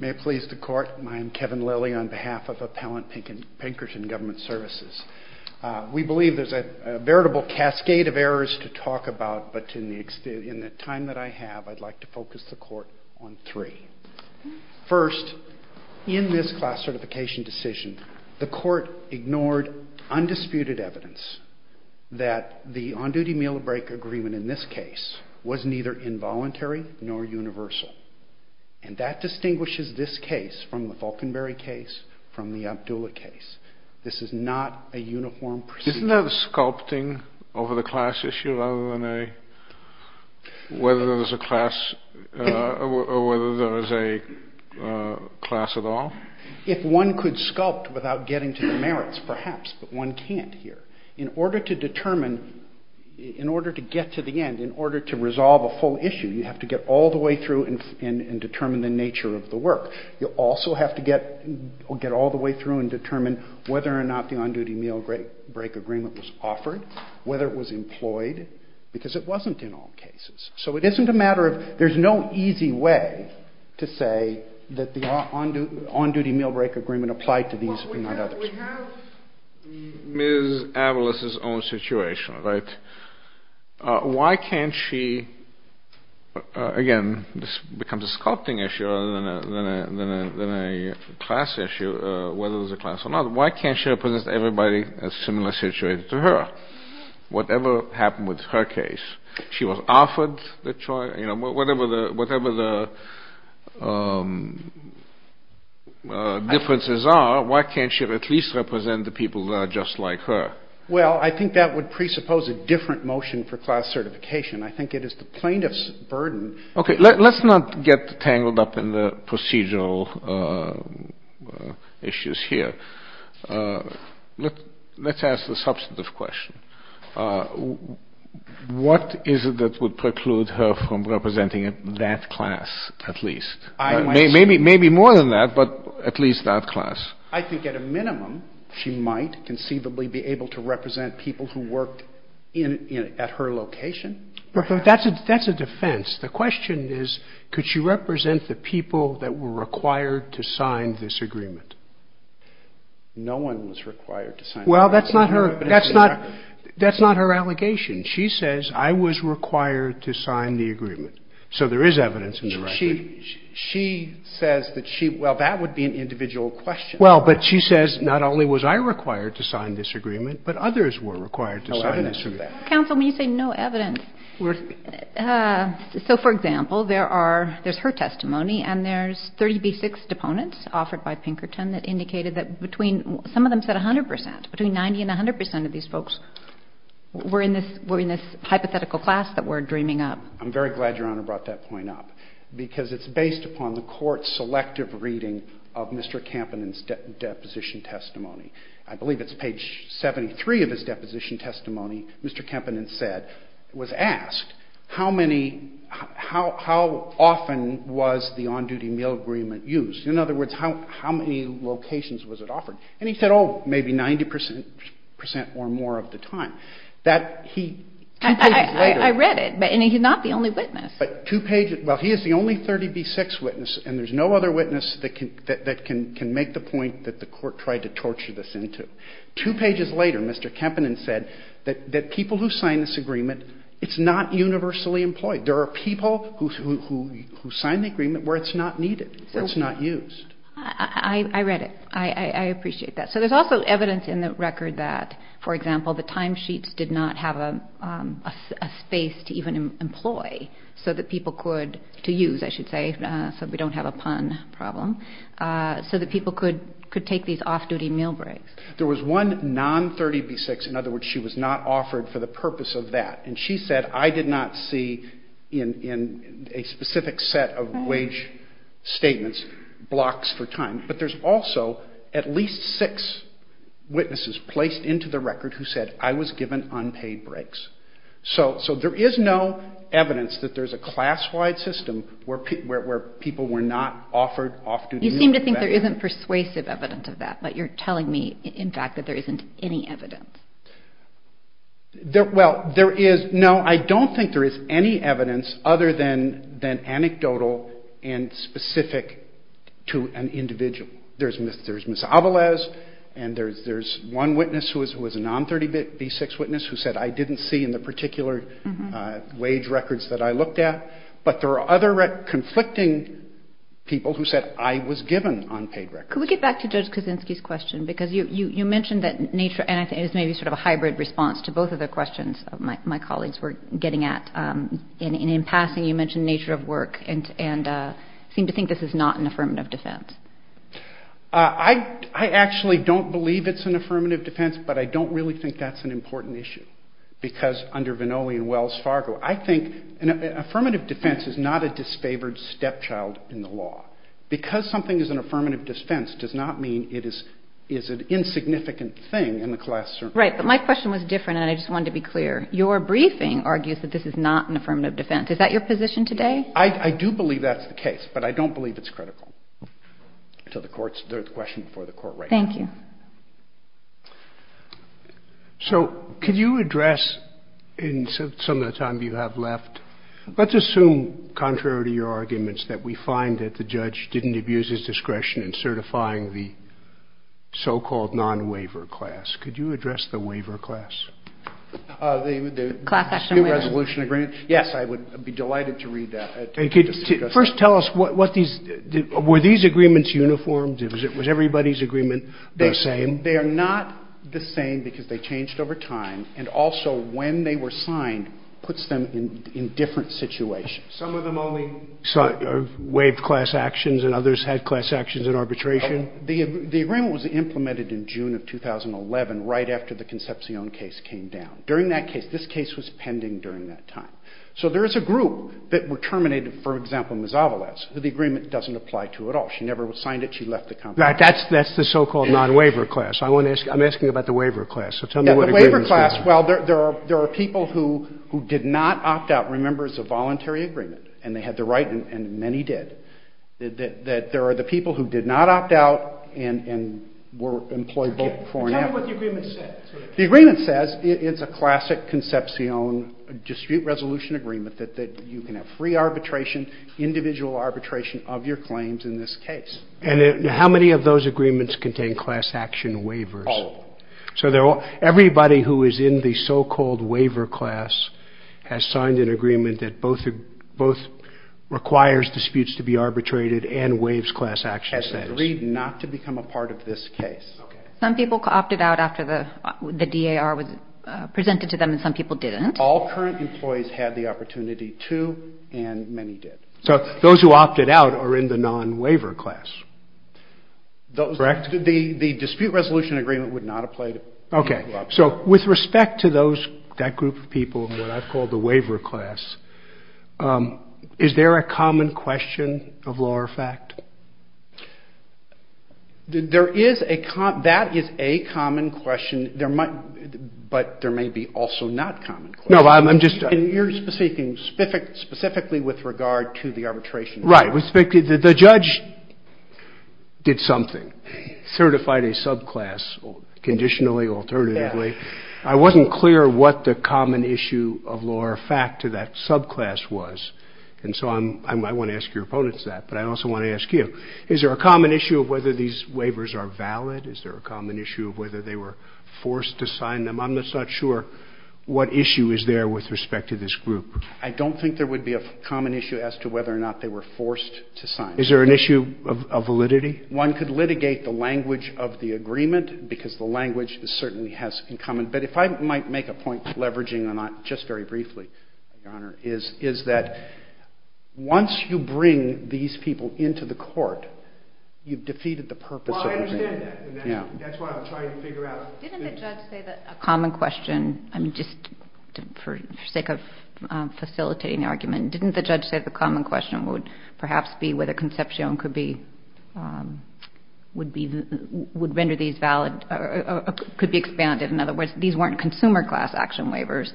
May it please the Court, I'm Kevin Lilly on behalf of Appellant Pinkerton Government Services. We believe there's a veritable cascade of errors to talk about, but in the time that I have, I'd like to focus the Court on three. First, in this class certification decision, the Court ignored undisputed evidence that the on-duty meal break agreement in this case was neither involuntary nor universal. And that distinguishes this case from the Falkenberry case from the Abdullah case. This is not a uniform procedure. Isn't that a sculpting over the class issue rather than a whether there's a class or whether there is a class at all? If one could sculpt without getting to the merits, perhaps, but one can't here. In order to determine, in order to get to the end, in order to resolve a full issue, you have to get all the way through and determine the nature of the work. You also have to get all the way through and determine whether or not the on-duty meal break agreement was offered, whether it was employed, because it wasn't in all cases. So it isn't a matter of, there's no easy way to say that the on-duty meal break agreement applied to these, if not others. We have Ms. Avalos' own situation, right? Why can't she, again, this becomes a sculpting issue rather than a class issue, whether there's a class or not. Why can't she represent everybody in a similar situation to her? Whatever happened with her case, she was offered the choice. Whatever the differences are, why can't she at least represent the people that are just like her? Well, I think that would presuppose a different motion for class certification. I think it is the plaintiff's burden. Okay, let's not get tangled up in the procedural issues here. Let's ask the substantive question. What is it that would preclude her from representing that class at least? Maybe more than that, but at least that class. I think at a minimum, she might conceivably be able to represent people who worked at her location. That's a defense. The question is, could she represent the people that were required to sign this agreement? No one was required to sign the agreement. Well, that's not her allegation. She says, I was required to sign the agreement. So there is evidence in the record. She says that she, well, that would be an individual question. Well, but she says, not only was I required to sign this agreement, but others were required to sign this agreement. No evidence of that. Counsel, when you say no evidence, so for example, there's her testimony, and there's 30B6 deponents offered by Pinkerton that indicated that between, some of them said 100 percent. Between 90 and 100 percent of these folks were in this hypothetical class that we're dreaming up. I'm very glad Your Honor brought that point up, because it's based upon the Court's selective reading of Mr. Kampanen's deposition testimony. I believe it's page 73 of his deposition testimony. Mr. Kampanen said, was asked, how many, how often was the on-duty meal agreement used? In other words, how many locations was it offered? And he said, oh, maybe 90 percent or more of the time. That he, two pages later. I read it, and he's not the only witness. But two pages, well, he is the only 30B6 witness, and there's no other witness that can make the point that the Court tried to torture this into. Two pages later, Mr. Kampanen said that people who signed this agreement, it's not universally employed. There are people who signed the agreement where it's not needed, where it's not used. I read it. I appreciate that. So there's also evidence in the record that, for example, the timesheets did not have a space to even employ so that people could, to use, I should say, so we don't have a pun problem, so that people could take these off-duty meal breaks. There was one non-30B6. In other words, she was not offered for the purpose of that. And she said, I did not see in a specific set of wage statements blocks for time. But there's also at least six witnesses placed into the record who said, I was given unpaid breaks. So there is no evidence that there's a class-wide system where people were not offered off-duty meal breaks. You seem to think there isn't persuasive evidence of that, but you're telling me, in fact, that there isn't any evidence. Well, there is. No, I don't think there is any evidence other than anecdotal and specific to an individual. There's Ms. Avales, and there's one witness who was a non-30B6 witness who said, I didn't see in the particular wage records that I looked at. But there are other conflicting people who said, I was given unpaid records. Could we get back to Judge Kuczynski's question? Because you mentioned that nature, and I think it's maybe sort of a hybrid response to both of the questions my colleagues were getting at. In passing, you mentioned nature of work and seem to think this is not an affirmative defense. I actually don't believe it's an affirmative defense, but I don't really think that's an important issue. Because under Vannoli and Wells Fargo, I think an affirmative defense is not a disfavored stepchild in the law. Because something is an affirmative defense does not mean it is an insignificant thing in the class circuit. Right, but my question was different, and I just wanted to be clear. Your briefing argues that this is not an affirmative defense. Is that your position today? I do believe that's the case, but I don't believe it's critical to the courts. There's a question before the court right now. Thank you. So could you address, in some of the time you have left, let's assume, contrary to your arguments, that we find that the judge didn't abuse his discretion in certifying the so-called non-waiver class. Could you address the waiver class? The new resolution agreement? Yes, I would be delighted to read that. First tell us, were these agreements uniformed? Was it everybody's agreement? The same. They are not the same because they changed over time. And also when they were signed puts them in different situations. Some of them only waived class actions and others had class actions in arbitration. The agreement was implemented in June of 2011, right after the Concepcion case came down. During that case, this case was pending during that time. So there is a group that were terminated, for example, Mezavalas, who the agreement doesn't apply to at all. She never signed it. She left the company. That's the so-called non-waiver class. I'm asking about the waiver class. So tell me what the agreement says. The waiver class, well, there are people who did not opt out, remember, it's a voluntary agreement. And they had the right, and many did, that there are the people who did not opt out and were employed both before and after. Tell me what the agreement says. The agreement says it's a classic Concepcion dispute resolution agreement, that you can have free arbitration, individual arbitration of your claims in this case. And how many of those agreements contain class action waivers? All of them. So everybody who is in the so-called waiver class has signed an agreement that both requires disputes to be arbitrated and waives class action. Has agreed not to become a part of this case. Some people opted out after the DAR was presented to them, and some people didn't. All current employees had the opportunity to, and many did. So those who opted out are in the non-waiver class. Correct? The dispute resolution agreement would not have played a role. Okay. So with respect to that group of people, what I've called the waiver class, is there a common question of law or fact? That is a common question, but there may be also not common questions. And you're speaking specifically with regard to the arbitration? Right. The judge did something, certified a subclass, conditionally, alternatively. I wasn't clear what the common issue of law or fact to that subclass was. And so I want to ask your opponents that, but I also want to ask you. Is there a common issue of whether these waivers are valid? Is there a common issue of whether they were forced to sign them? I'm just not sure what issue is there with respect to this group. I don't think there would be a common issue as to whether or not they were forced to sign them. Is there an issue of validity? One could litigate the language of the agreement, because the language certainly has in common. But if I might make a point, leveraging or not, just very briefly, Your Honor, is that once you bring these people into the court, you've defeated the purpose of the agreement. Well, I understand that, and that's what I'm trying to figure out. Didn't the judge say that a common question, I mean, just for the sake of facilitating the argument, didn't the judge say the common question would perhaps be whether Concepcion could be, would render these valid, could be expanded? In other words, these weren't consumer class action waivers.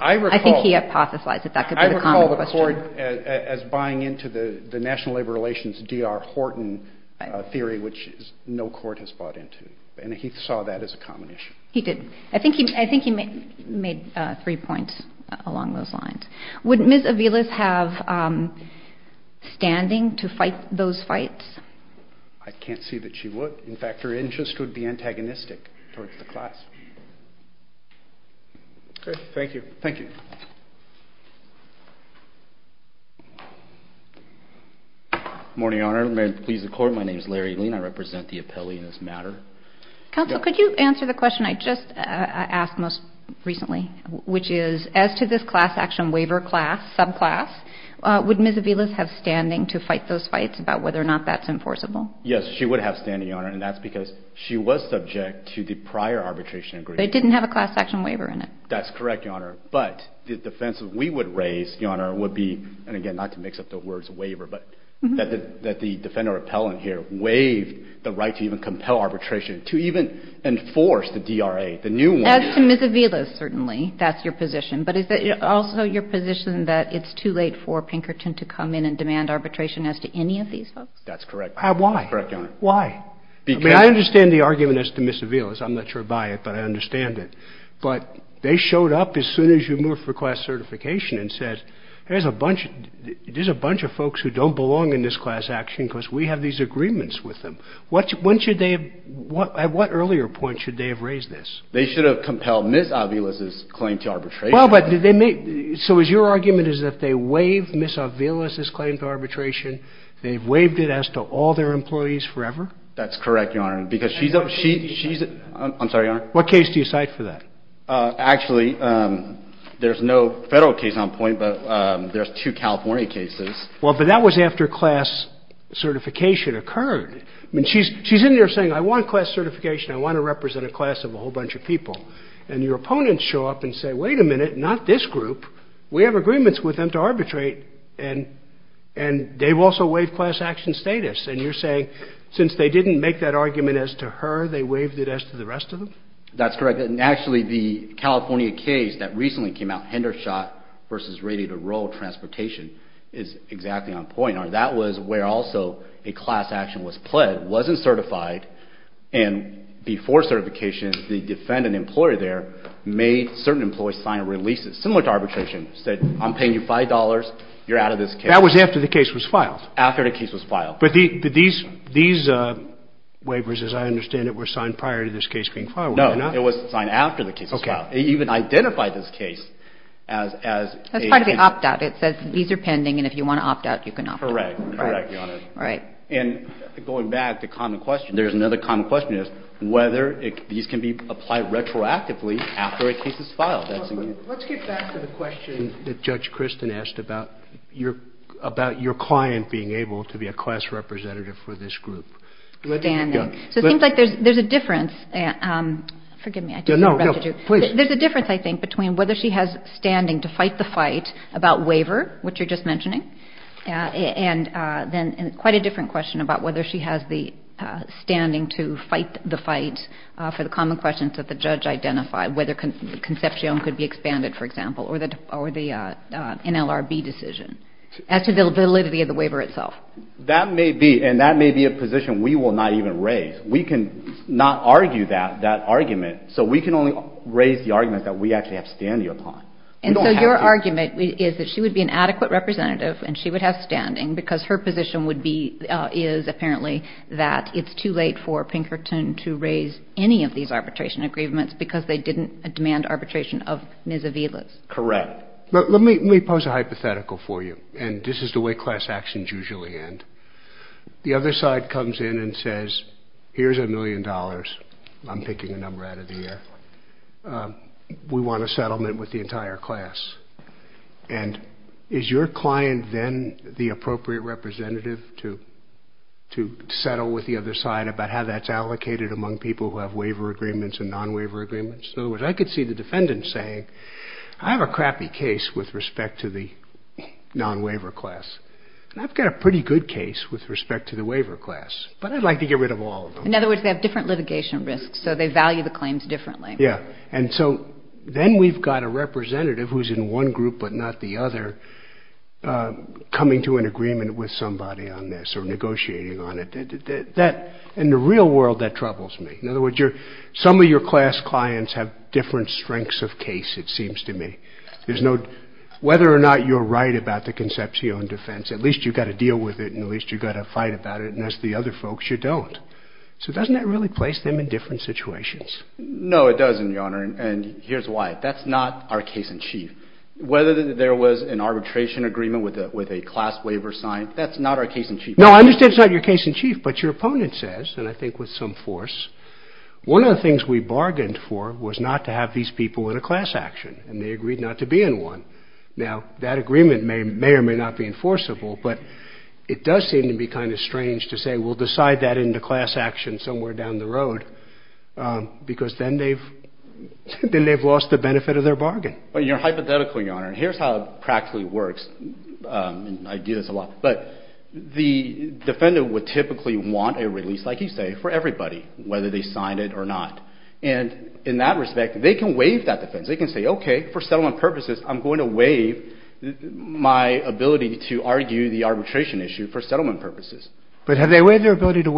I think he hypothesized that that could be the common question. I recall the court as buying into the National Labor Relations D.R. Horton theory, which no court has bought into. And he saw that as a common issue. He did. I think he made three points along those lines. Would Ms. Aviles have standing to fight those fights? I can't see that she would. In fact, her interest would be antagonistic towards the class. Okay, thank you. Thank you. Good morning, Your Honor. May it please the Court. My name is Larry Lean. I represent the appellee in this matter. Counsel, could you answer the question I just asked most recently, which is as to this class action waiver class, subclass, would Ms. Aviles have standing to fight those fights about whether or not that's enforceable? Yes, she would have standing, Your Honor. And that's because she was subject to the prior arbitration agreement. But it didn't have a class action waiver in it. That's correct, Your Honor. But the defense we would raise, Your Honor, would be, and again, not to mix up the words waiver, but that the defender appellant here waived the right to even compel arbitration, to even enforce the DRA, the new one. As to Ms. Aviles, certainly, that's your position. But is it also your position that it's too late for Pinkerton to come in and demand arbitration as to any of these folks? That's correct. Why? That's correct, Your Honor. Why? I mean, I understand the argument as to Ms. Aviles. I'm not sure about it, but I understand it. But they showed up as soon as you moved for class certification and said, there's a bunch of folks who don't belong in this class action because we have these agreements with them. When should they have, at what earlier point should they have raised this? They should have compelled Ms. Aviles' claim to arbitration. Well, but did they make, so is your argument is that they waived Ms. Aviles' claim to arbitration, they waived it as to all their employees forever? That's correct, Your Honor, because she's, I'm sorry, Your Honor. What case do you cite for that? Actually, there's no federal case on point, but there's two California cases. Well, but that was after class certification occurred. I mean, she's in there saying, I want class certification. I want to represent a class of a whole bunch of people. And your opponents show up and say, wait a minute, not this group. We have agreements with them to arbitrate, and they've also waived class action status. And you're saying since they didn't make that argument as to her, they waived it as to the rest of them? That's correct. And actually, the California case that recently came out, Hendershot v. Ready to Roll Transportation, is exactly on point. That was where also a class action was pled, wasn't certified, and before certification, the defendant employer there made certain employees sign releases, similar to arbitration, said I'm paying you $5, you're out of this case. After the case was filed. But these waivers, as I understand it, were signed prior to this case being filed, were they not? No. It was signed after the case was filed. Okay. They even identified this case as a. That's part of the opt-out. It says these are pending, and if you want to opt-out, you can opt-out. Correct. Correct, Your Honor. Right. And going back to common question, there's another common question is whether these can be applied retroactively after a case is filed. Let's get back to the question that Judge Kristen asked about your client being able to be a class representative for this group. So it seems like there's a difference. Forgive me. There's a difference, I think, between whether she has standing to fight the fight about waiver, which you're just mentioning, and then quite a different question about whether she has the standing to fight the fight for the common questions that the judge identified, whether Concepcion could be expanded, for example, or the NLRB decision as to the validity of the waiver itself. That may be, and that may be a position we will not even raise. We can not argue that argument, so we can only raise the argument that we actually have standing upon. And so your argument is that she would be an adequate representative and she would have standing because her position would be, is apparently that it's too late for Pinkerton to raise any of these arbitration agreements because they didn't demand arbitration of Ms. Avila's. Correct. Let me pose a hypothetical for you, and this is the way class actions usually end. The other side comes in and says, here's a million dollars. I'm picking a number out of the air. We want a settlement with the entire class. And is your client then the appropriate representative to settle with the other side about how that's allocated among people who have waiver agreements and non-waiver agreements? So if I could see the defendant saying, I have a crappy case with respect to the non-waiver class, and I've got a pretty good case with respect to the waiver class, but I'd like to get rid of all of them. In other words, they have different litigation risks, so they value the claims differently. Yeah. And so then we've got a representative who's in one group but not the other coming to an agreement with somebody on this or negotiating on it. That, in the real world, that troubles me. In other words, some of your class clients have different strengths of case, it seems to me. There's no, whether or not you're right about the Concepcion defense, at least you've got to deal with it, and at least you've got to fight about it, and as the other folks, you don't. So doesn't that really place them in different situations? No, it doesn't, Your Honor, and here's why. That's not our case in chief. Whether there was an arbitration agreement with a class waiver signed, that's not our case in chief. No, I understand it's not your case in chief, but your opponent says, and I think with some force, one of the things we bargained for was not to have these people in a class action, and they agreed not to be in one. Now, that agreement may or may not be enforceable, but it does seem to be kind of strange to say, we'll decide that in the class action somewhere down the road, because then they've lost the benefit of their bargain. Well, you're hypothetical, Your Honor, and here's how it practically works, and I do this a lot, but the defendant would typically want a release, like you say, for everybody, whether they signed it or not, and in that respect, they can waive that defense. They can say, okay, for settlement purposes, I'm going to waive my ability to argue the arbitration issue for settlement purposes. But have they waived their ability to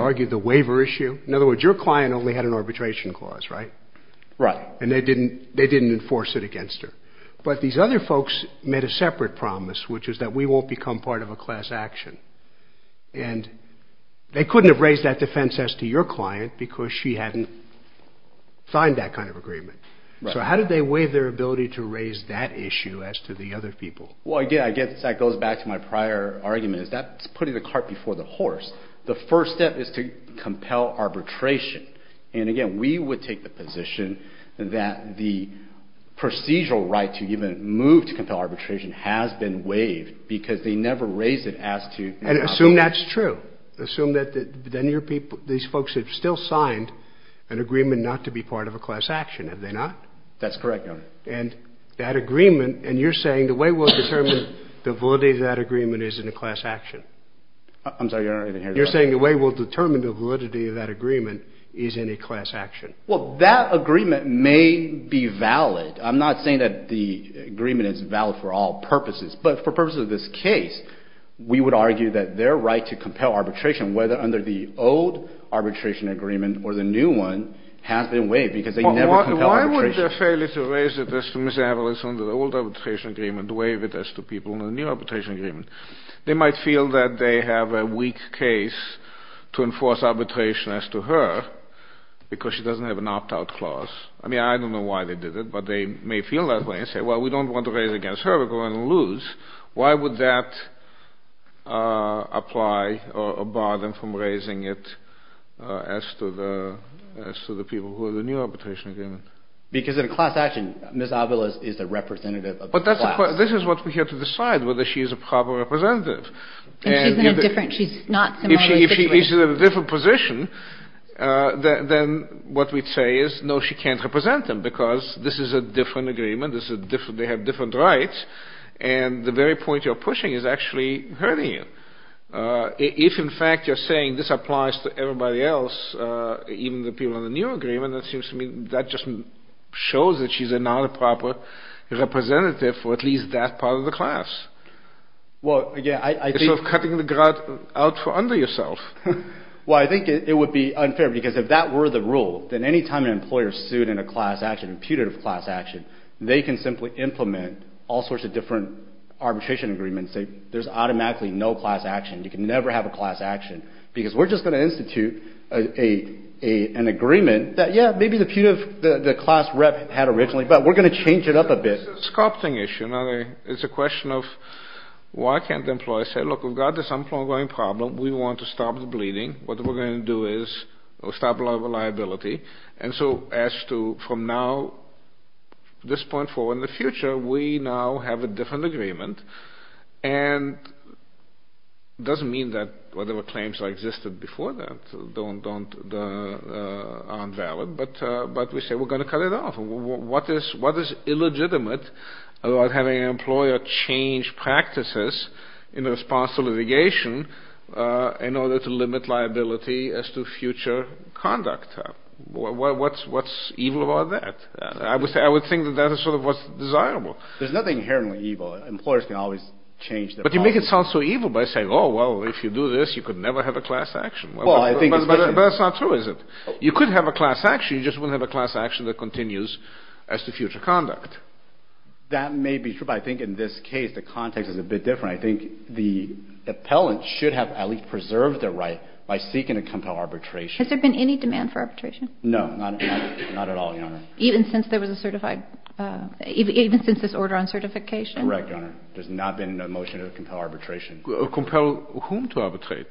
argue the waiver issue? In other words, your client only had an arbitration clause, right? Right. And they didn't enforce it against her. But these other folks made a separate promise, which is that we won't become part of a class action, and they couldn't have raised that defense as to your client because she hadn't signed that kind of agreement. So how did they waive their ability to raise that issue as to the other people? Well, again, I guess that goes back to my prior argument, is that's putting the cart before the horse. The first step is to compel arbitration. And, again, we would take the position that the procedural right to even move to compel arbitration has been waived because they never raised it as to your client. And assume that's true. Assume that these folks have still signed an agreement not to be part of a class action, have they not? That's correct, Your Honor. And that agreement, and you're saying the way we'll determine the validity of that agreement is in a class action. I'm sorry, Your Honor, I didn't hear that. You're saying the way we'll determine the validity of that agreement is in a class action. Well, that agreement may be valid. I'm not saying that the agreement is valid for all purposes. But for purposes of this case, we would argue that their right to compel arbitration, whether under the old arbitration agreement or the new one, has been waived because they never compelled arbitration. So why would the failure to raise it as to Ms. Avalos under the old arbitration agreement waive it as to people in the new arbitration agreement? They might feel that they have a weak case to enforce arbitration as to her because she doesn't have an opt-out clause. I mean, I don't know why they did it, but they may feel that way and say, well, we don't want to raise it against her. We're going to lose. Why would that apply or bar them from raising it as to the people who are in the new arbitration agreement? Because in a class action, Ms. Avalos is a representative of the class. But this is what we have to decide, whether she is a proper representative. And she's in a different – she's not similarly situated. If she's in a different position, then what we'd say is, no, she can't represent them because this is a different agreement. They have different rights. And the very point you're pushing is actually hurting you. If, in fact, you're saying this applies to everybody else, even the people in the new agreement, that just shows that she's not a proper representative for at least that part of the class. It's sort of cutting the grout out for under yourself. Well, I think it would be unfair because if that were the rule, then any time an employer sued in a class action, a putative class action, they can simply implement all sorts of different arbitration agreements. There's automatically no class action. You can never have a class action because we're just going to institute an agreement that, yeah, maybe the class rep had originally, but we're going to change it up a bit. It's a sculpting issue. It's a question of why can't the employer say, look, we've got this ongoing problem. We want to stop the bleeding. What we're going to do is stop a lot of liability. And so as to from now, this point forward in the future, we now have a different agreement. And it doesn't mean that whatever claims existed before that aren't valid, but we say we're going to cut it off. What is illegitimate about having an employer change practices in response to litigation in order to limit liability as to future conduct? What's evil about that? I would think that that is sort of what's desirable. There's nothing inherently evil. Employers can always change their policy. But you make it sound so evil by saying, oh, well, if you do this, you could never have a class action. Well, I think it's true. But that's not true, is it? You could have a class action. You just wouldn't have a class action that continues as to future conduct. That may be true. But I think in this case, the context is a bit different. I think the appellant should have at least preserved their right by seeking to compel arbitration. Has there been any demand for arbitration? No, not at all, Your Honor. Even since there was a certified, even since this order on certification? Correct, Your Honor. There's not been a motion to compel arbitration. Compel whom to arbitrate?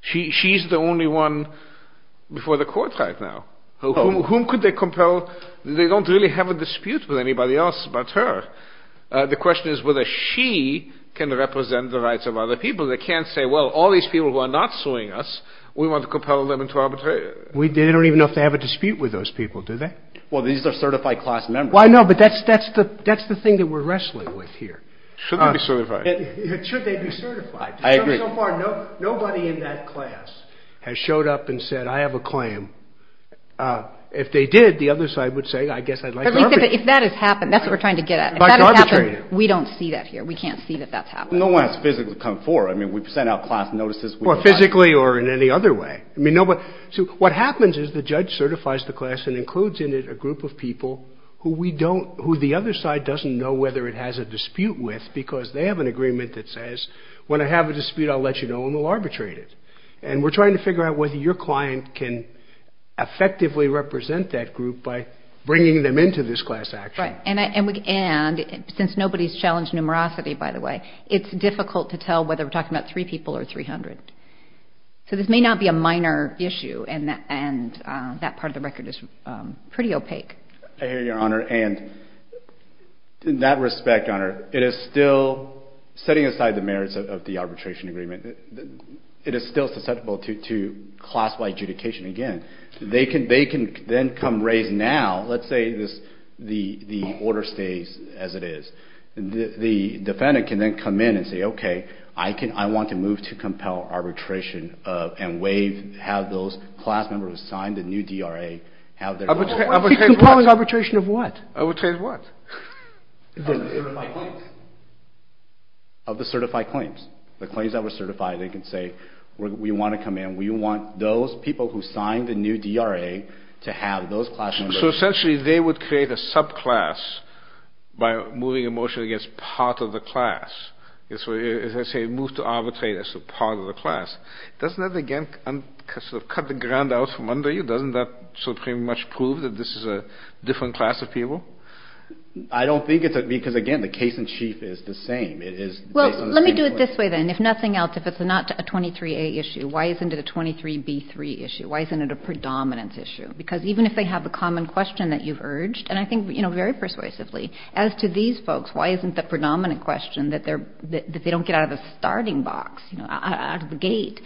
She's the only one before the court right now. Whom could they compel? They don't really have a dispute with anybody else but her. The question is whether she can represent the rights of other people. They can't say, well, all these people who are not suing us, we want to compel them into arbitration. We don't even know if they have a dispute with those people, do they? Well, these are certified class members. Well, I know, but that's the thing that we're wrestling with here. Should they be certified? Should they be certified? I agree. Nobody in that class has showed up and said, I have a claim. If they did, the other side would say, I guess I'd like to arbitrate. If that has happened, that's what we're trying to get at. If that has happened, we don't see that here. We can't see that that's happening. No one has physically come forward. I mean, we've sent out class notices. Physically or in any other way. What happens is the judge certifies the class and includes in it a group of people who we don't, who the other side doesn't know whether it has a dispute with because they have an agreement that says, when I have a dispute, I'll let you know and we'll arbitrate it. And we're trying to figure out whether your client can effectively represent that group by bringing them into this class action. Right. And since nobody's challenged numerosity, by the way, it's difficult to tell whether we're talking about three people or 300. So this may not be a minor issue. And that part of the record is pretty opaque. I hear you, Your Honor. And in that respect, Your Honor, it is still setting aside the merits of the arbitration agreement. It is still susceptible to class-wide adjudication again. They can then come raise now, let's say the order stays as it is. The defendant can then come in and say, okay, I want to move to compel arbitration and waive, have those class members sign the new DRA, have their rights. He's compelling arbitration of what? Arbitration of what? Of the certified claims. Of the certified claims. The claims that were certified. They can say, we want to come in. We want those people who signed the new DRA to have those class members. So essentially they would create a subclass by moving a motion against part of the class. As I say, it moves to arbitrate as a part of the class. Doesn't that, again, sort of cut the ground out from under you? Doesn't that sort of pretty much prove that this is a different class of people? I don't think it's a – because, again, the case in chief is the same. Well, let me do it this way then. If nothing else, if it's not a 23A issue, why isn't it a 23B3 issue? Why isn't it a predominance issue? Because even if they have a common question that you've urged, and I think very persuasively, as to these folks, why isn't the predominant question that they don't get out of the starting box, out of the gate,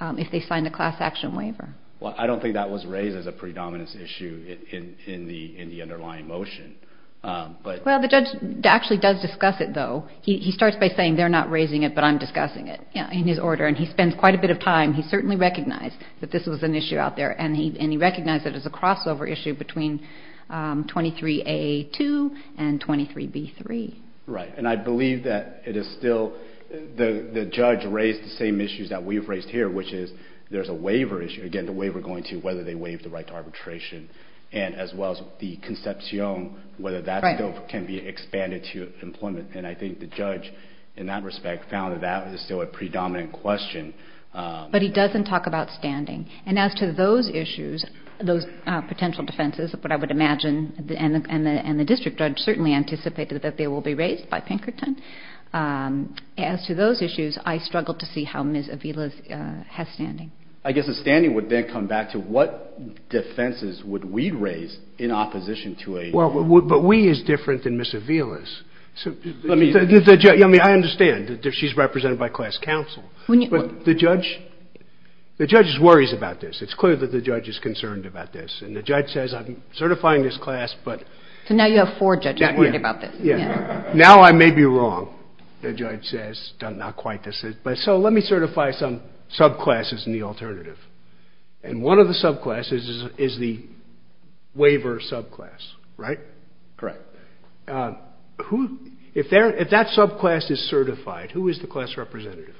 if they sign the class action waiver? Well, I don't think that was raised as a predominance issue in the underlying motion. Well, the judge actually does discuss it, though. He starts by saying they're not raising it, but I'm discussing it in his order, and he spends quite a bit of time. He certainly recognized that this was an issue out there, and he recognized it as a crossover issue between 23A2 and 23B3. Right, and I believe that it is still – the judge raised the same issues that we've raised here, which is there's a waiver issue, again, the waiver going to whether they waive the right to arbitration, as well as the conception, whether that still can be expanded to employment. And I think the judge, in that respect, found that that was still a predominant question. But he doesn't talk about standing. And as to those issues, those potential defenses, what I would imagine – and the district judge certainly anticipated that they will be raised by Pinkerton. As to those issues, I struggled to see how Ms. Avila has standing. I guess the standing would then come back to what defenses would we raise in opposition to a waiver. Well, but we is different than Ms. Avila's. I mean, I understand that she's represented by class counsel. But the judge – the judge worries about this. It's clear that the judge is concerned about this. And the judge says, I'm certifying this class, but – So now you have four judges worried about this. Now I may be wrong, the judge says, not quite. So let me certify some subclasses in the alternative. And one of the subclasses is the waiver subclass, right? Correct. Who – if that subclass is certified, who is the class representative?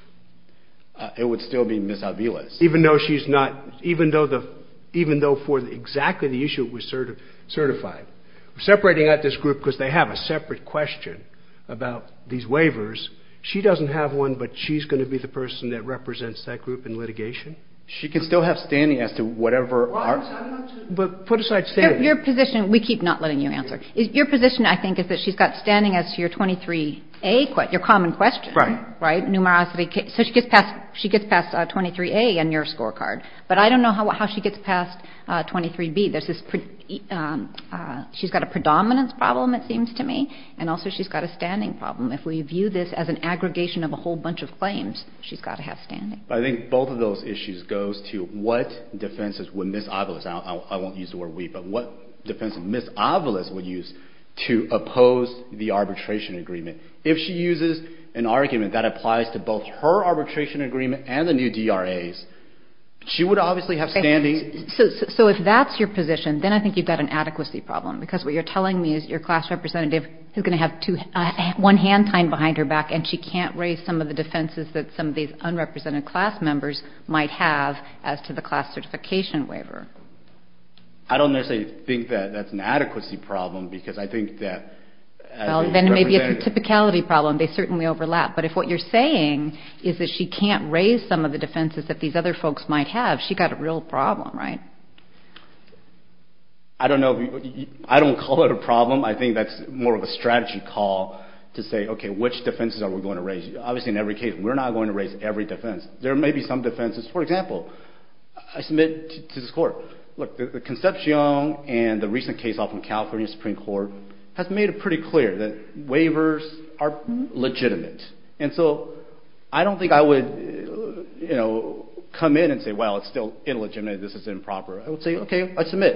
It would still be Ms. Avila's. Even though she's not – even though for exactly the issue it was certified. We're separating out this group because they have a separate question about these waivers. She doesn't have one, but she's going to be the person that represents that group in litigation. She can still have standing as to whatever – Well, I'm not – But put aside standing. Your position – we keep not letting you answer. Your position, I think, is that she's got standing as to your 23A, your common question. Right. Right, numerosity. So she gets past 23A on your scorecard. But I don't know how she gets past 23B. There's this – she's got a predominance problem, it seems to me. And also she's got a standing problem. If we view this as an aggregation of a whole bunch of claims, she's got to have standing. But I think both of those issues goes to what defenses would Ms. Avila – I won't use the word we, but what defense Ms. Avila would use to oppose the arbitration agreement. If she uses an argument that applies to both her arbitration agreement and the new DRAs, she would obviously have standing. So if that's your position, then I think you've got an adequacy problem because what you're telling me is your class representative is going to have one hand tying behind her back and she can't raise some of the defenses that some of these unrepresented class members might have as to the class certification waiver. I don't necessarily think that that's an adequacy problem because I think that – Well, then it may be a typicality problem. They certainly overlap. But if what you're saying is that she can't raise some of the defenses that these other folks might have, she's got a real problem, right? I don't know. I don't call it a problem. I think that's more of a strategy call to say, okay, which defenses are we going to raise? Obviously, in every case, we're not going to raise every defense. There may be some defenses. For example, I submit to this Court, look, the Concepcion and the recent case off in California, the Supreme Court has made it pretty clear that waivers are legitimate. And so I don't think I would, you know, come in and say, well, it's still illegitimate. This is improper. I would say, okay, I submit.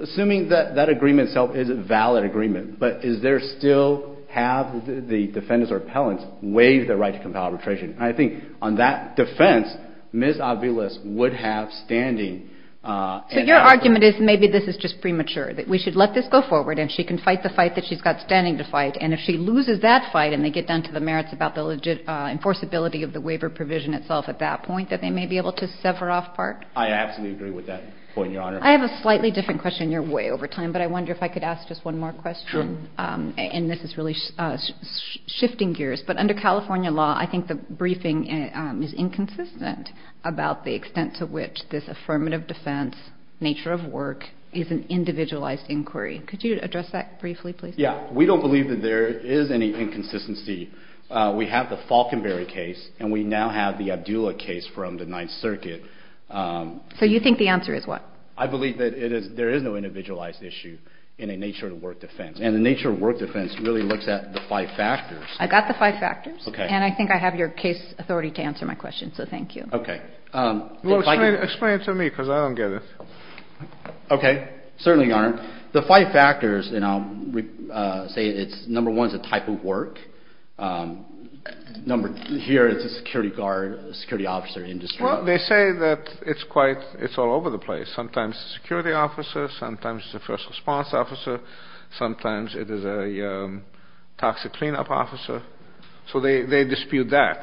Assuming that that agreement itself is a valid agreement, but is there still have the defendants or appellants waive the right to compel arbitration? And I think on that defense, Ms. Aviles would have standing. So your argument is maybe this is just premature, that we should let this go forward and she can fight the fight that she's got standing to fight. And if she loses that fight and they get down to the merits about the enforceability of the waiver provision itself at that point, that they may be able to sever off part? I absolutely agree with that point, Your Honor. I have a slightly different question. You're way over time. But I wonder if I could ask just one more question. Sure. And this is really shifting gears. But under California law, I think the briefing is inconsistent about the extent to which this affirmative defense nature of work is an individualized inquiry. Could you address that briefly, please? Yeah. We don't believe that there is any inconsistency. We have the Falkenberry case, and we now have the Abdullah case from the Ninth Circuit. So you think the answer is what? I believe that there is no individualized issue in a nature of work defense. And the nature of work defense really looks at the five factors. I got the five factors. Okay. And I think I have your case authority to answer my question. So thank you. Okay. Well, explain it to me because I don't get it. Okay. Certainly, Your Honor. The five factors, and I'll say it's number one is the type of work. Number two here is the security guard, security officer industry. Well, they say that it's all over the place. Sometimes it's a security officer. Sometimes it's a first response officer. Sometimes it is a toxic cleanup officer. So they dispute that.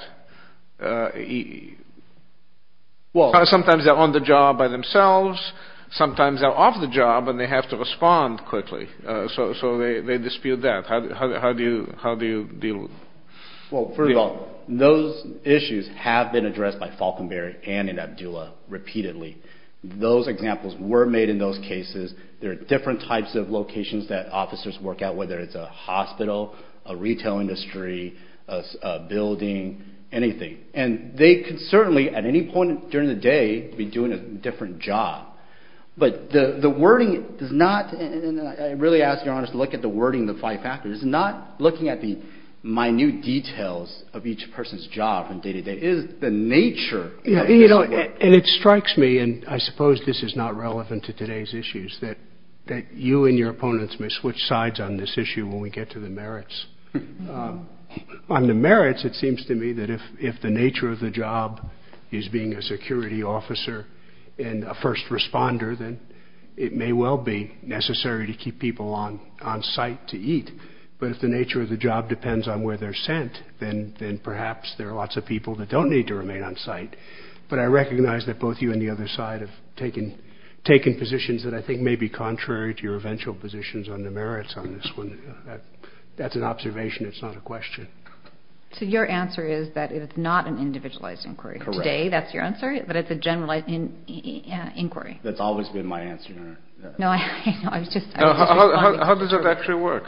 Sometimes they're on the job by themselves. Sometimes they're off the job, and they have to respond quickly. So they dispute that. How do you deal with it? Well, first of all, those issues have been addressed by Falkenberry and Abdullah repeatedly. Those examples were made in those cases. There are different types of locations that officers work at, whether it's a hospital, a retail industry, a building, anything. And they could certainly, at any point during the day, be doing a different job. But the wording does not, and I really ask, Your Honor, to look at the wording of the five factors. Not looking at the minute details of each person's job from day to day. It is the nature of this work. And it strikes me, and I suppose this is not relevant to today's issues, that you and your opponents may switch sides on this issue when we get to the merits. On the merits, it seems to me that if the nature of the job is being a security officer and a first responder, then it may well be necessary to keep people on site to eat. But if the nature of the job depends on where they're sent, then perhaps there are lots of people that don't need to remain on site. But I recognize that both you and the other side have taken positions that I think may be contrary to your eventual positions on the merits on this one. That's an observation. It's not a question. So your answer is that it's not an individualized inquiry. Correct. Today, that's your answer, but it's a generalized inquiry. That's always been my answer, Your Honor. How does that actually work?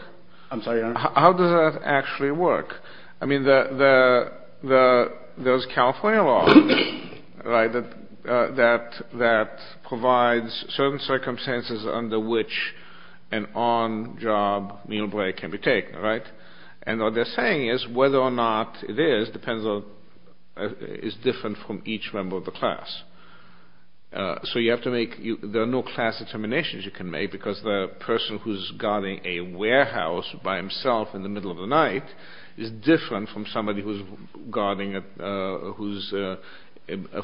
I'm sorry, Your Honor? How does that actually work? I mean, there's California law that provides certain circumstances under which an on-job meal break can be taken, right? And what they're saying is whether or not it is is different from each member of the class. So there are no class determinations you can make because the person who's guarding a warehouse by himself in the middle of the night is different from somebody who's a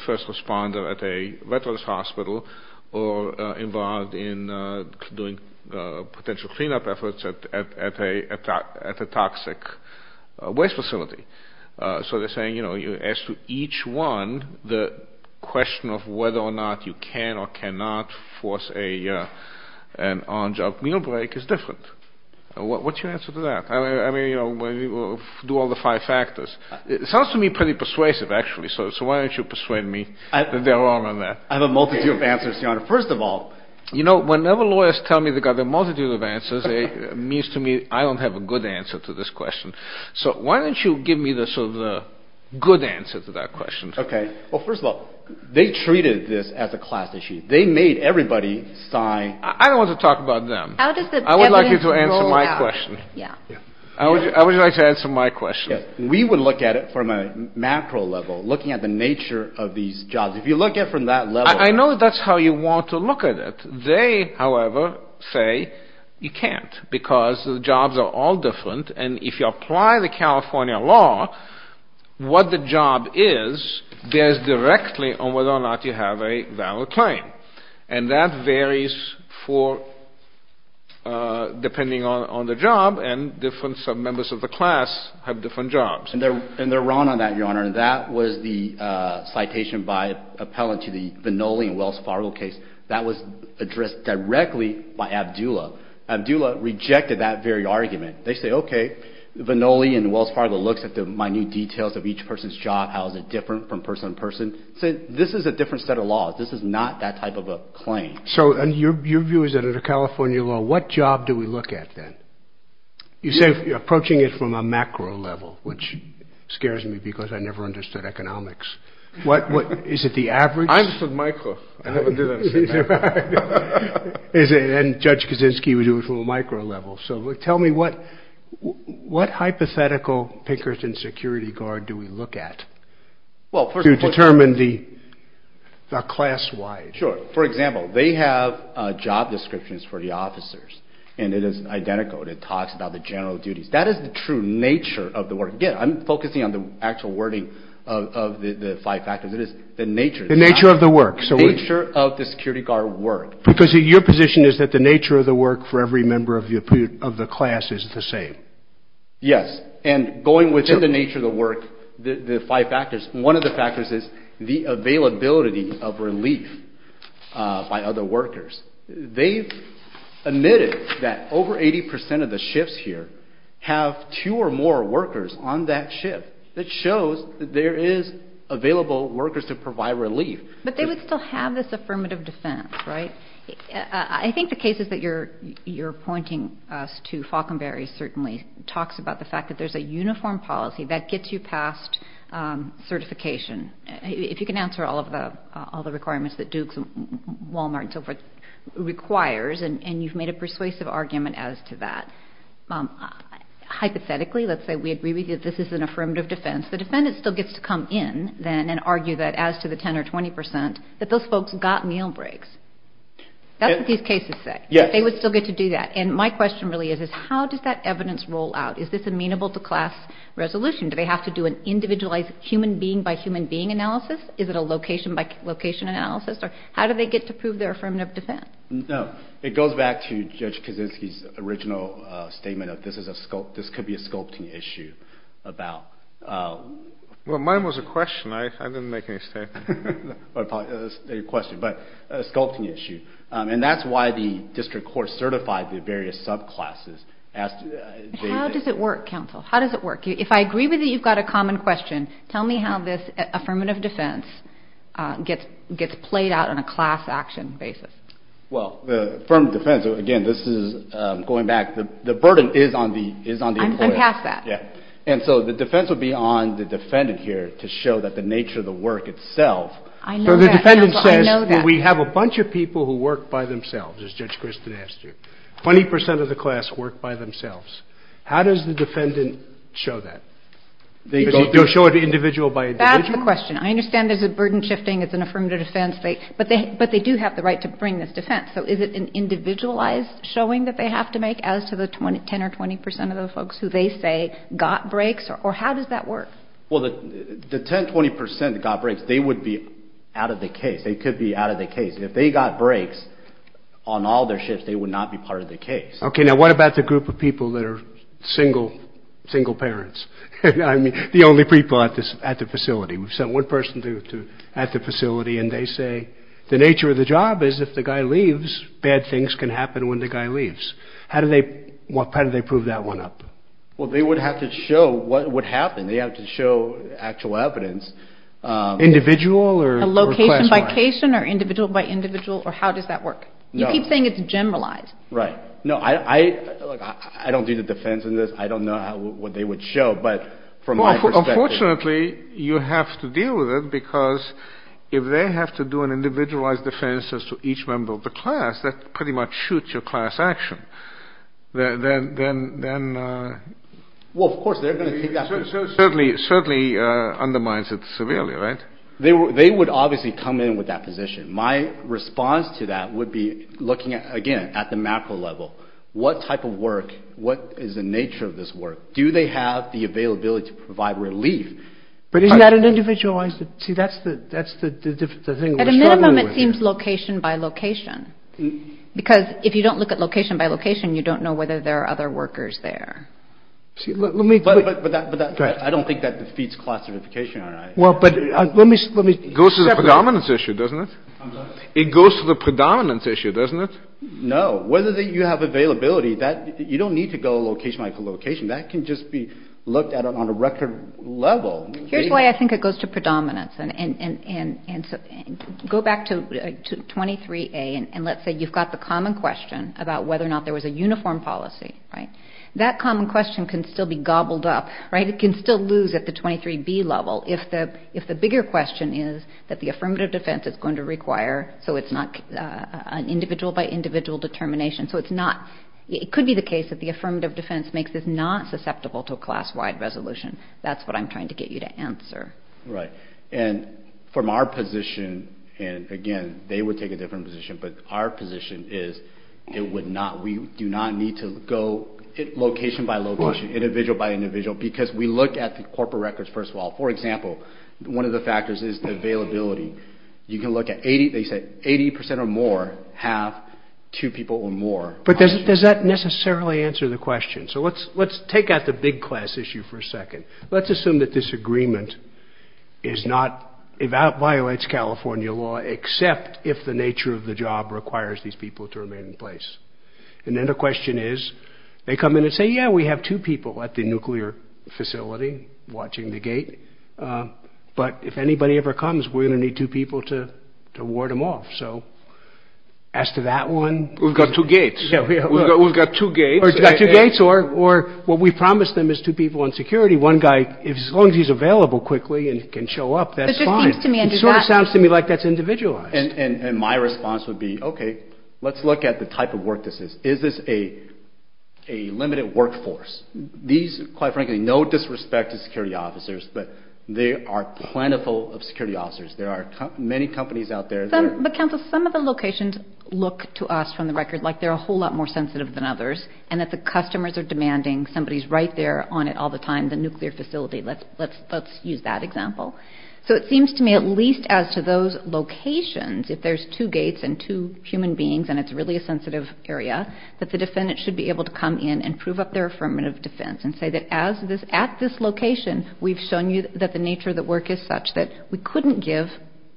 first responder at a veterans hospital or involved in doing potential cleanup efforts at a toxic waste facility. So they're saying, you know, as to each one, the question of whether or not you can or cannot force an on-job meal break is different. What's your answer to that? I mean, you know, do all the five factors. It sounds to me pretty persuasive, actually. So why don't you persuade me that they're wrong on that? I have a multitude of answers, Your Honor. First of all — You know, whenever lawyers tell me they've got a multitude of answers, it means to me I don't have a good answer to this question. So why don't you give me sort of the good answer to that question? Okay. Well, first of all, they treated this as a class issue. They made everybody sign — I don't want to talk about them. How does the evidence roll out? I would like you to answer my question. Yeah. I would like you to answer my question. We would look at it from a macro level, looking at the nature of these jobs. If you look at it from that level — I know that's how you want to look at it. They, however, say you can't, because the jobs are all different. And if you apply the California law, what the job is bears directly on whether or not you have a valid claim. And that varies for — depending on the job, and different submembers of the class have different jobs. And they're wrong on that, Your Honor. That was the citation by appellant to the Vannoli and Wells Fargo case. That was addressed directly by Abdulla. Abdulla rejected that very argument. They say, okay, Vannoli and Wells Fargo looks at the minute details of each person's job. How is it different from person to person? This is a different set of laws. This is not that type of a claim. So your view is that under the California law, what job do we look at then? You say approaching it from a macro level, which scares me because I never understood economics. Is it the average? I understood micro. I never did that. And Judge Kaczynski would do it from a micro level. So tell me, what hypothetical Pinkerton security guard do we look at to determine the class-wide? Sure. For example, they have job descriptions for the officers, and it is identical. It talks about the general duties. That is the true nature of the work. Again, I'm focusing on the actual wording of the five factors. It is the nature. The nature of the work. The nature of the security guard work. Because your position is that the nature of the work for every member of the class is the same. Yes. And going within the nature of the work, the five factors, one of the factors is the availability of relief by other workers. They've admitted that over 80% of the shifts here have two or more workers on that shift. That shows that there is available workers to provide relief. But they would still have this affirmative defense, right? I think the cases that you're pointing us to, Falkenberry certainly talks about the fact that there's a uniform policy that gets you past certification. If you can answer all of the requirements that Dukes and Wal-Mart and so forth requires, and you've made a persuasive argument as to that, hypothetically, let's say we agree with you that this is an affirmative defense, the defendant still gets to come in then and argue that as to the 10 or 20% that those folks got meal breaks. That's what these cases say. Yes. They would still get to do that. And my question really is, is how does that evidence roll out? Is this amenable to class resolution? Do they have to do an individualized human being by human being analysis? Is it a location by location analysis? Or how do they get to prove their affirmative defense? No. It goes back to Judge Kaczynski's original statement of this could be a sculpting issue. Well, mine was a question. I didn't make any statements. It was a question, but a sculpting issue. And that's why the district court certified the various subclasses. How does it work, counsel? How does it work? If I agree with you, you've got a common question. Tell me how this affirmative defense gets played out on a class action basis. Well, the affirmative defense, again, this is going back. The burden is on the employer. I'm past that. Yeah. And so the defense would be on the defendant here to show that the nature of the work itself. I know that, counsel. I know that. So the defendant says, well, we have a bunch of people who work by themselves, as Judge Christin asked you. 20% of the class work by themselves. How does the defendant show that? They'll show it individual by individual? That's the question. I understand there's a burden shifting. It's an affirmative defense. But they do have the right to bring this defense. So is it an individualized showing that they have to make as to the 10 or 20% of the folks who they say got breaks? Or how does that work? Well, the 10, 20% that got breaks, they would be out of the case. They could be out of the case. If they got breaks on all their shifts, they would not be part of the case. Okay. Now, what about the group of people that are single parents? I mean, the only people at the facility. We've sent one person at the facility, and they say the nature of the job is if the guy leaves, bad things can happen when the guy leaves. How do they prove that one up? Well, they would have to show what happened. They have to show actual evidence. Individual or class? A location by location or individual by individual? Or how does that work? You keep saying it's generalized. Right. No, I don't do the defense in this. I don't know what they would show. But from my perspective. Well, unfortunately, you have to deal with it because if they have to do an individualized defense as to each member of the class, that pretty much shoots your class action. Well, of course, they're going to take that position. Certainly undermines it severely, right? They would obviously come in with that position. My response to that would be looking at, again, at the macro level. What type of work? What is the nature of this work? Do they have the availability to provide relief? But isn't that an individualized? See, that's the thing. At a minimum, it seems location by location. Because if you don't look at location by location, you don't know whether there are other workers there. But I don't think that defeats classification. It goes to the predominance issue, doesn't it? It goes to the predominance issue, doesn't it? No. Whether you have availability, you don't need to go location by location. That can just be looked at on a record level. Here's why I think it goes to predominance. Go back to 23A, and let's say you've got the common question about whether or not there was a uniform policy. Right? That common question can still be gobbled up. Right? But it can still lose at the 23B level if the bigger question is that the affirmative defense is going to require so it's not an individual by individual determination. So it's not. It could be the case that the affirmative defense makes this not susceptible to a class-wide resolution. That's what I'm trying to get you to answer. Right. And from our position, and again, they would take a different position, but our position is it would not. We do not need to go location by location, individual by individual, because we look at the corporate records first of all. For example, one of the factors is availability. You can look at 80% or more have two people or more. But does that necessarily answer the question? So let's take out the big class issue for a second. Let's assume that this agreement violates California law except if the nature of the job requires these people to remain in place. And then the question is, they come in and say, yeah, we have two people at the nuclear facility watching the gate. But if anybody ever comes, we're going to need two people to ward them off. So as to that one. We've got two gates. We've got two gates. Or what we promised them is two people on security. One guy, as long as he's available quickly and can show up, that's fine. It sort of sounds to me like that's individualized. And my response would be, okay, let's look at the type of work this is. Is this a limited workforce? These, quite frankly, no disrespect to security officers, but they are plentiful of security officers. There are many companies out there. But, counsel, some of the locations look to us from the record like they're a whole lot more sensitive than others and that the customers are demanding somebody's right there on it all the time, the nuclear facility. Let's use that example. So it seems to me at least as to those locations, if there's two gates and two human beings and it's really a sensitive area, that the defendant should be able to come in and prove up their affirmative defense and say that at this location we've shown you that the nature of the work is such that we couldn't give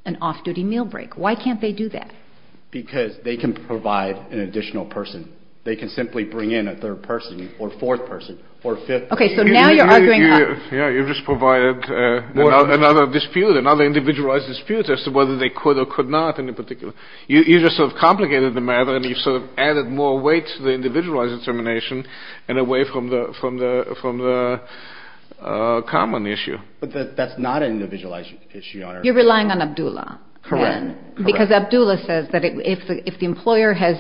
an off-duty meal break. Why can't they do that? Because they can provide an additional person. They can simply bring in a third person or fourth person or fifth person. Okay, so now you're arguing. Yeah, you just provided another dispute, another individualized dispute as to whether they could or could not in particular. You just sort of complicated the matter and you sort of added more weight to the individualized determination and away from the common issue. But that's not an individualized issue, Your Honor. You're relying on Abdullah. Correct. Because Abdullah says that if the employer has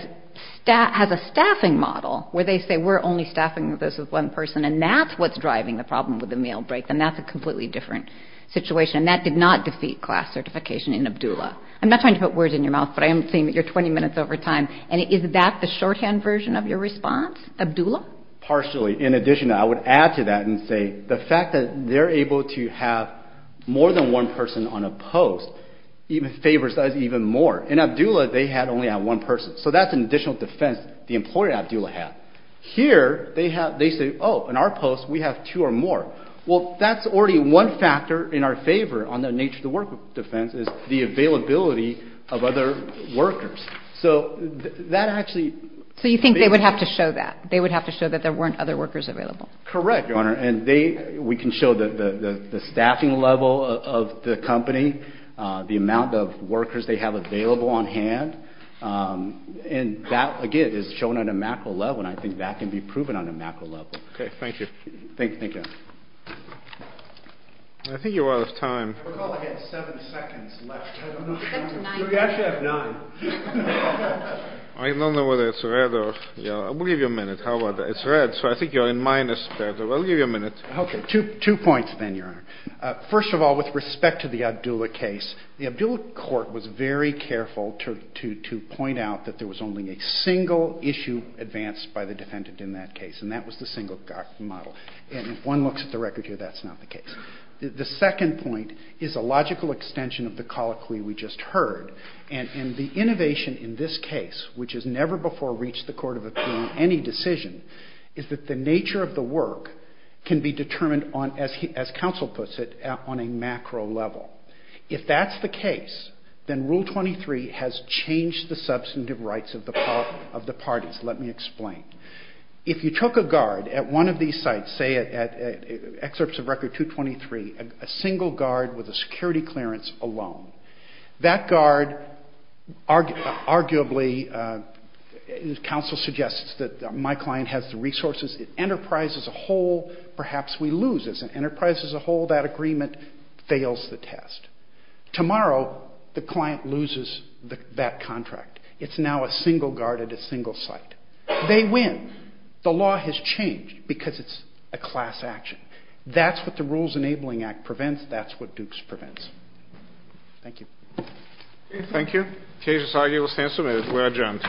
a staffing model where they say we're only staffing this with one person and that's what's driving the problem with the meal break, then that's a completely different situation. And that did not defeat class certification in Abdullah. I'm not trying to put words in your mouth, but I am saying that you're 20 minutes over time. And is that the shorthand version of your response, Abdullah? Partially. In addition, I would add to that and say the fact that they're able to have more than one person on a post favors us even more. In Abdullah, they had only one person. So that's an additional defense the employer in Abdullah had. Here, they say, oh, in our post, we have two or more. Well, that's already one factor in our favor on the nature of the worker defense is the availability of other workers. So that actually. So you think they would have to show that? They would have to show that there weren't other workers available. Correct, Your Honor. And we can show the staffing level of the company, the amount of workers they have available on hand. And that, again, is shown on a macro level. And I think that can be proven on a macro level. Okay. Thank you. Thank you. I think you're out of time. I recall I had seven seconds left. We actually have nine. I don't know whether it's red or yellow. I'll give you a minute. How about that? It's red. So I think you're in minus. I'll give you a minute. Okay. Two points then, Your Honor. First of all, with respect to the Abdullah case, the Abdullah court was very careful to point out that there was only a single issue advanced by the defendant in that case. And that was the single model. And if one looks at the record here, that's not the case. The second point is a logical extension of the colloquy we just heard. And the innovation in this case, which has never before reached the court of appeal on any decision, is that the nature of the work can be determined on, as counsel puts it, on a macro level. If that's the case, then Rule 23 has changed the substantive rights of the parties. Let me explain. If you took a guard at one of these sites, say at Excerpts of Record 223, a single guard with a security clearance alone, that guard arguably, as counsel suggests, that my client has the resources, it enterprises a whole, perhaps we lose. As it enterprises a whole, that agreement fails the test. Tomorrow, the client loses that contract. It's now a single guard at a single site. They win. The law has changed because it's a class action. That's what the Rules Enabling Act prevents. That's what Dukes prevents. Thank you. Thank you. The case is argued. We'll stand submitted. We're adjourned.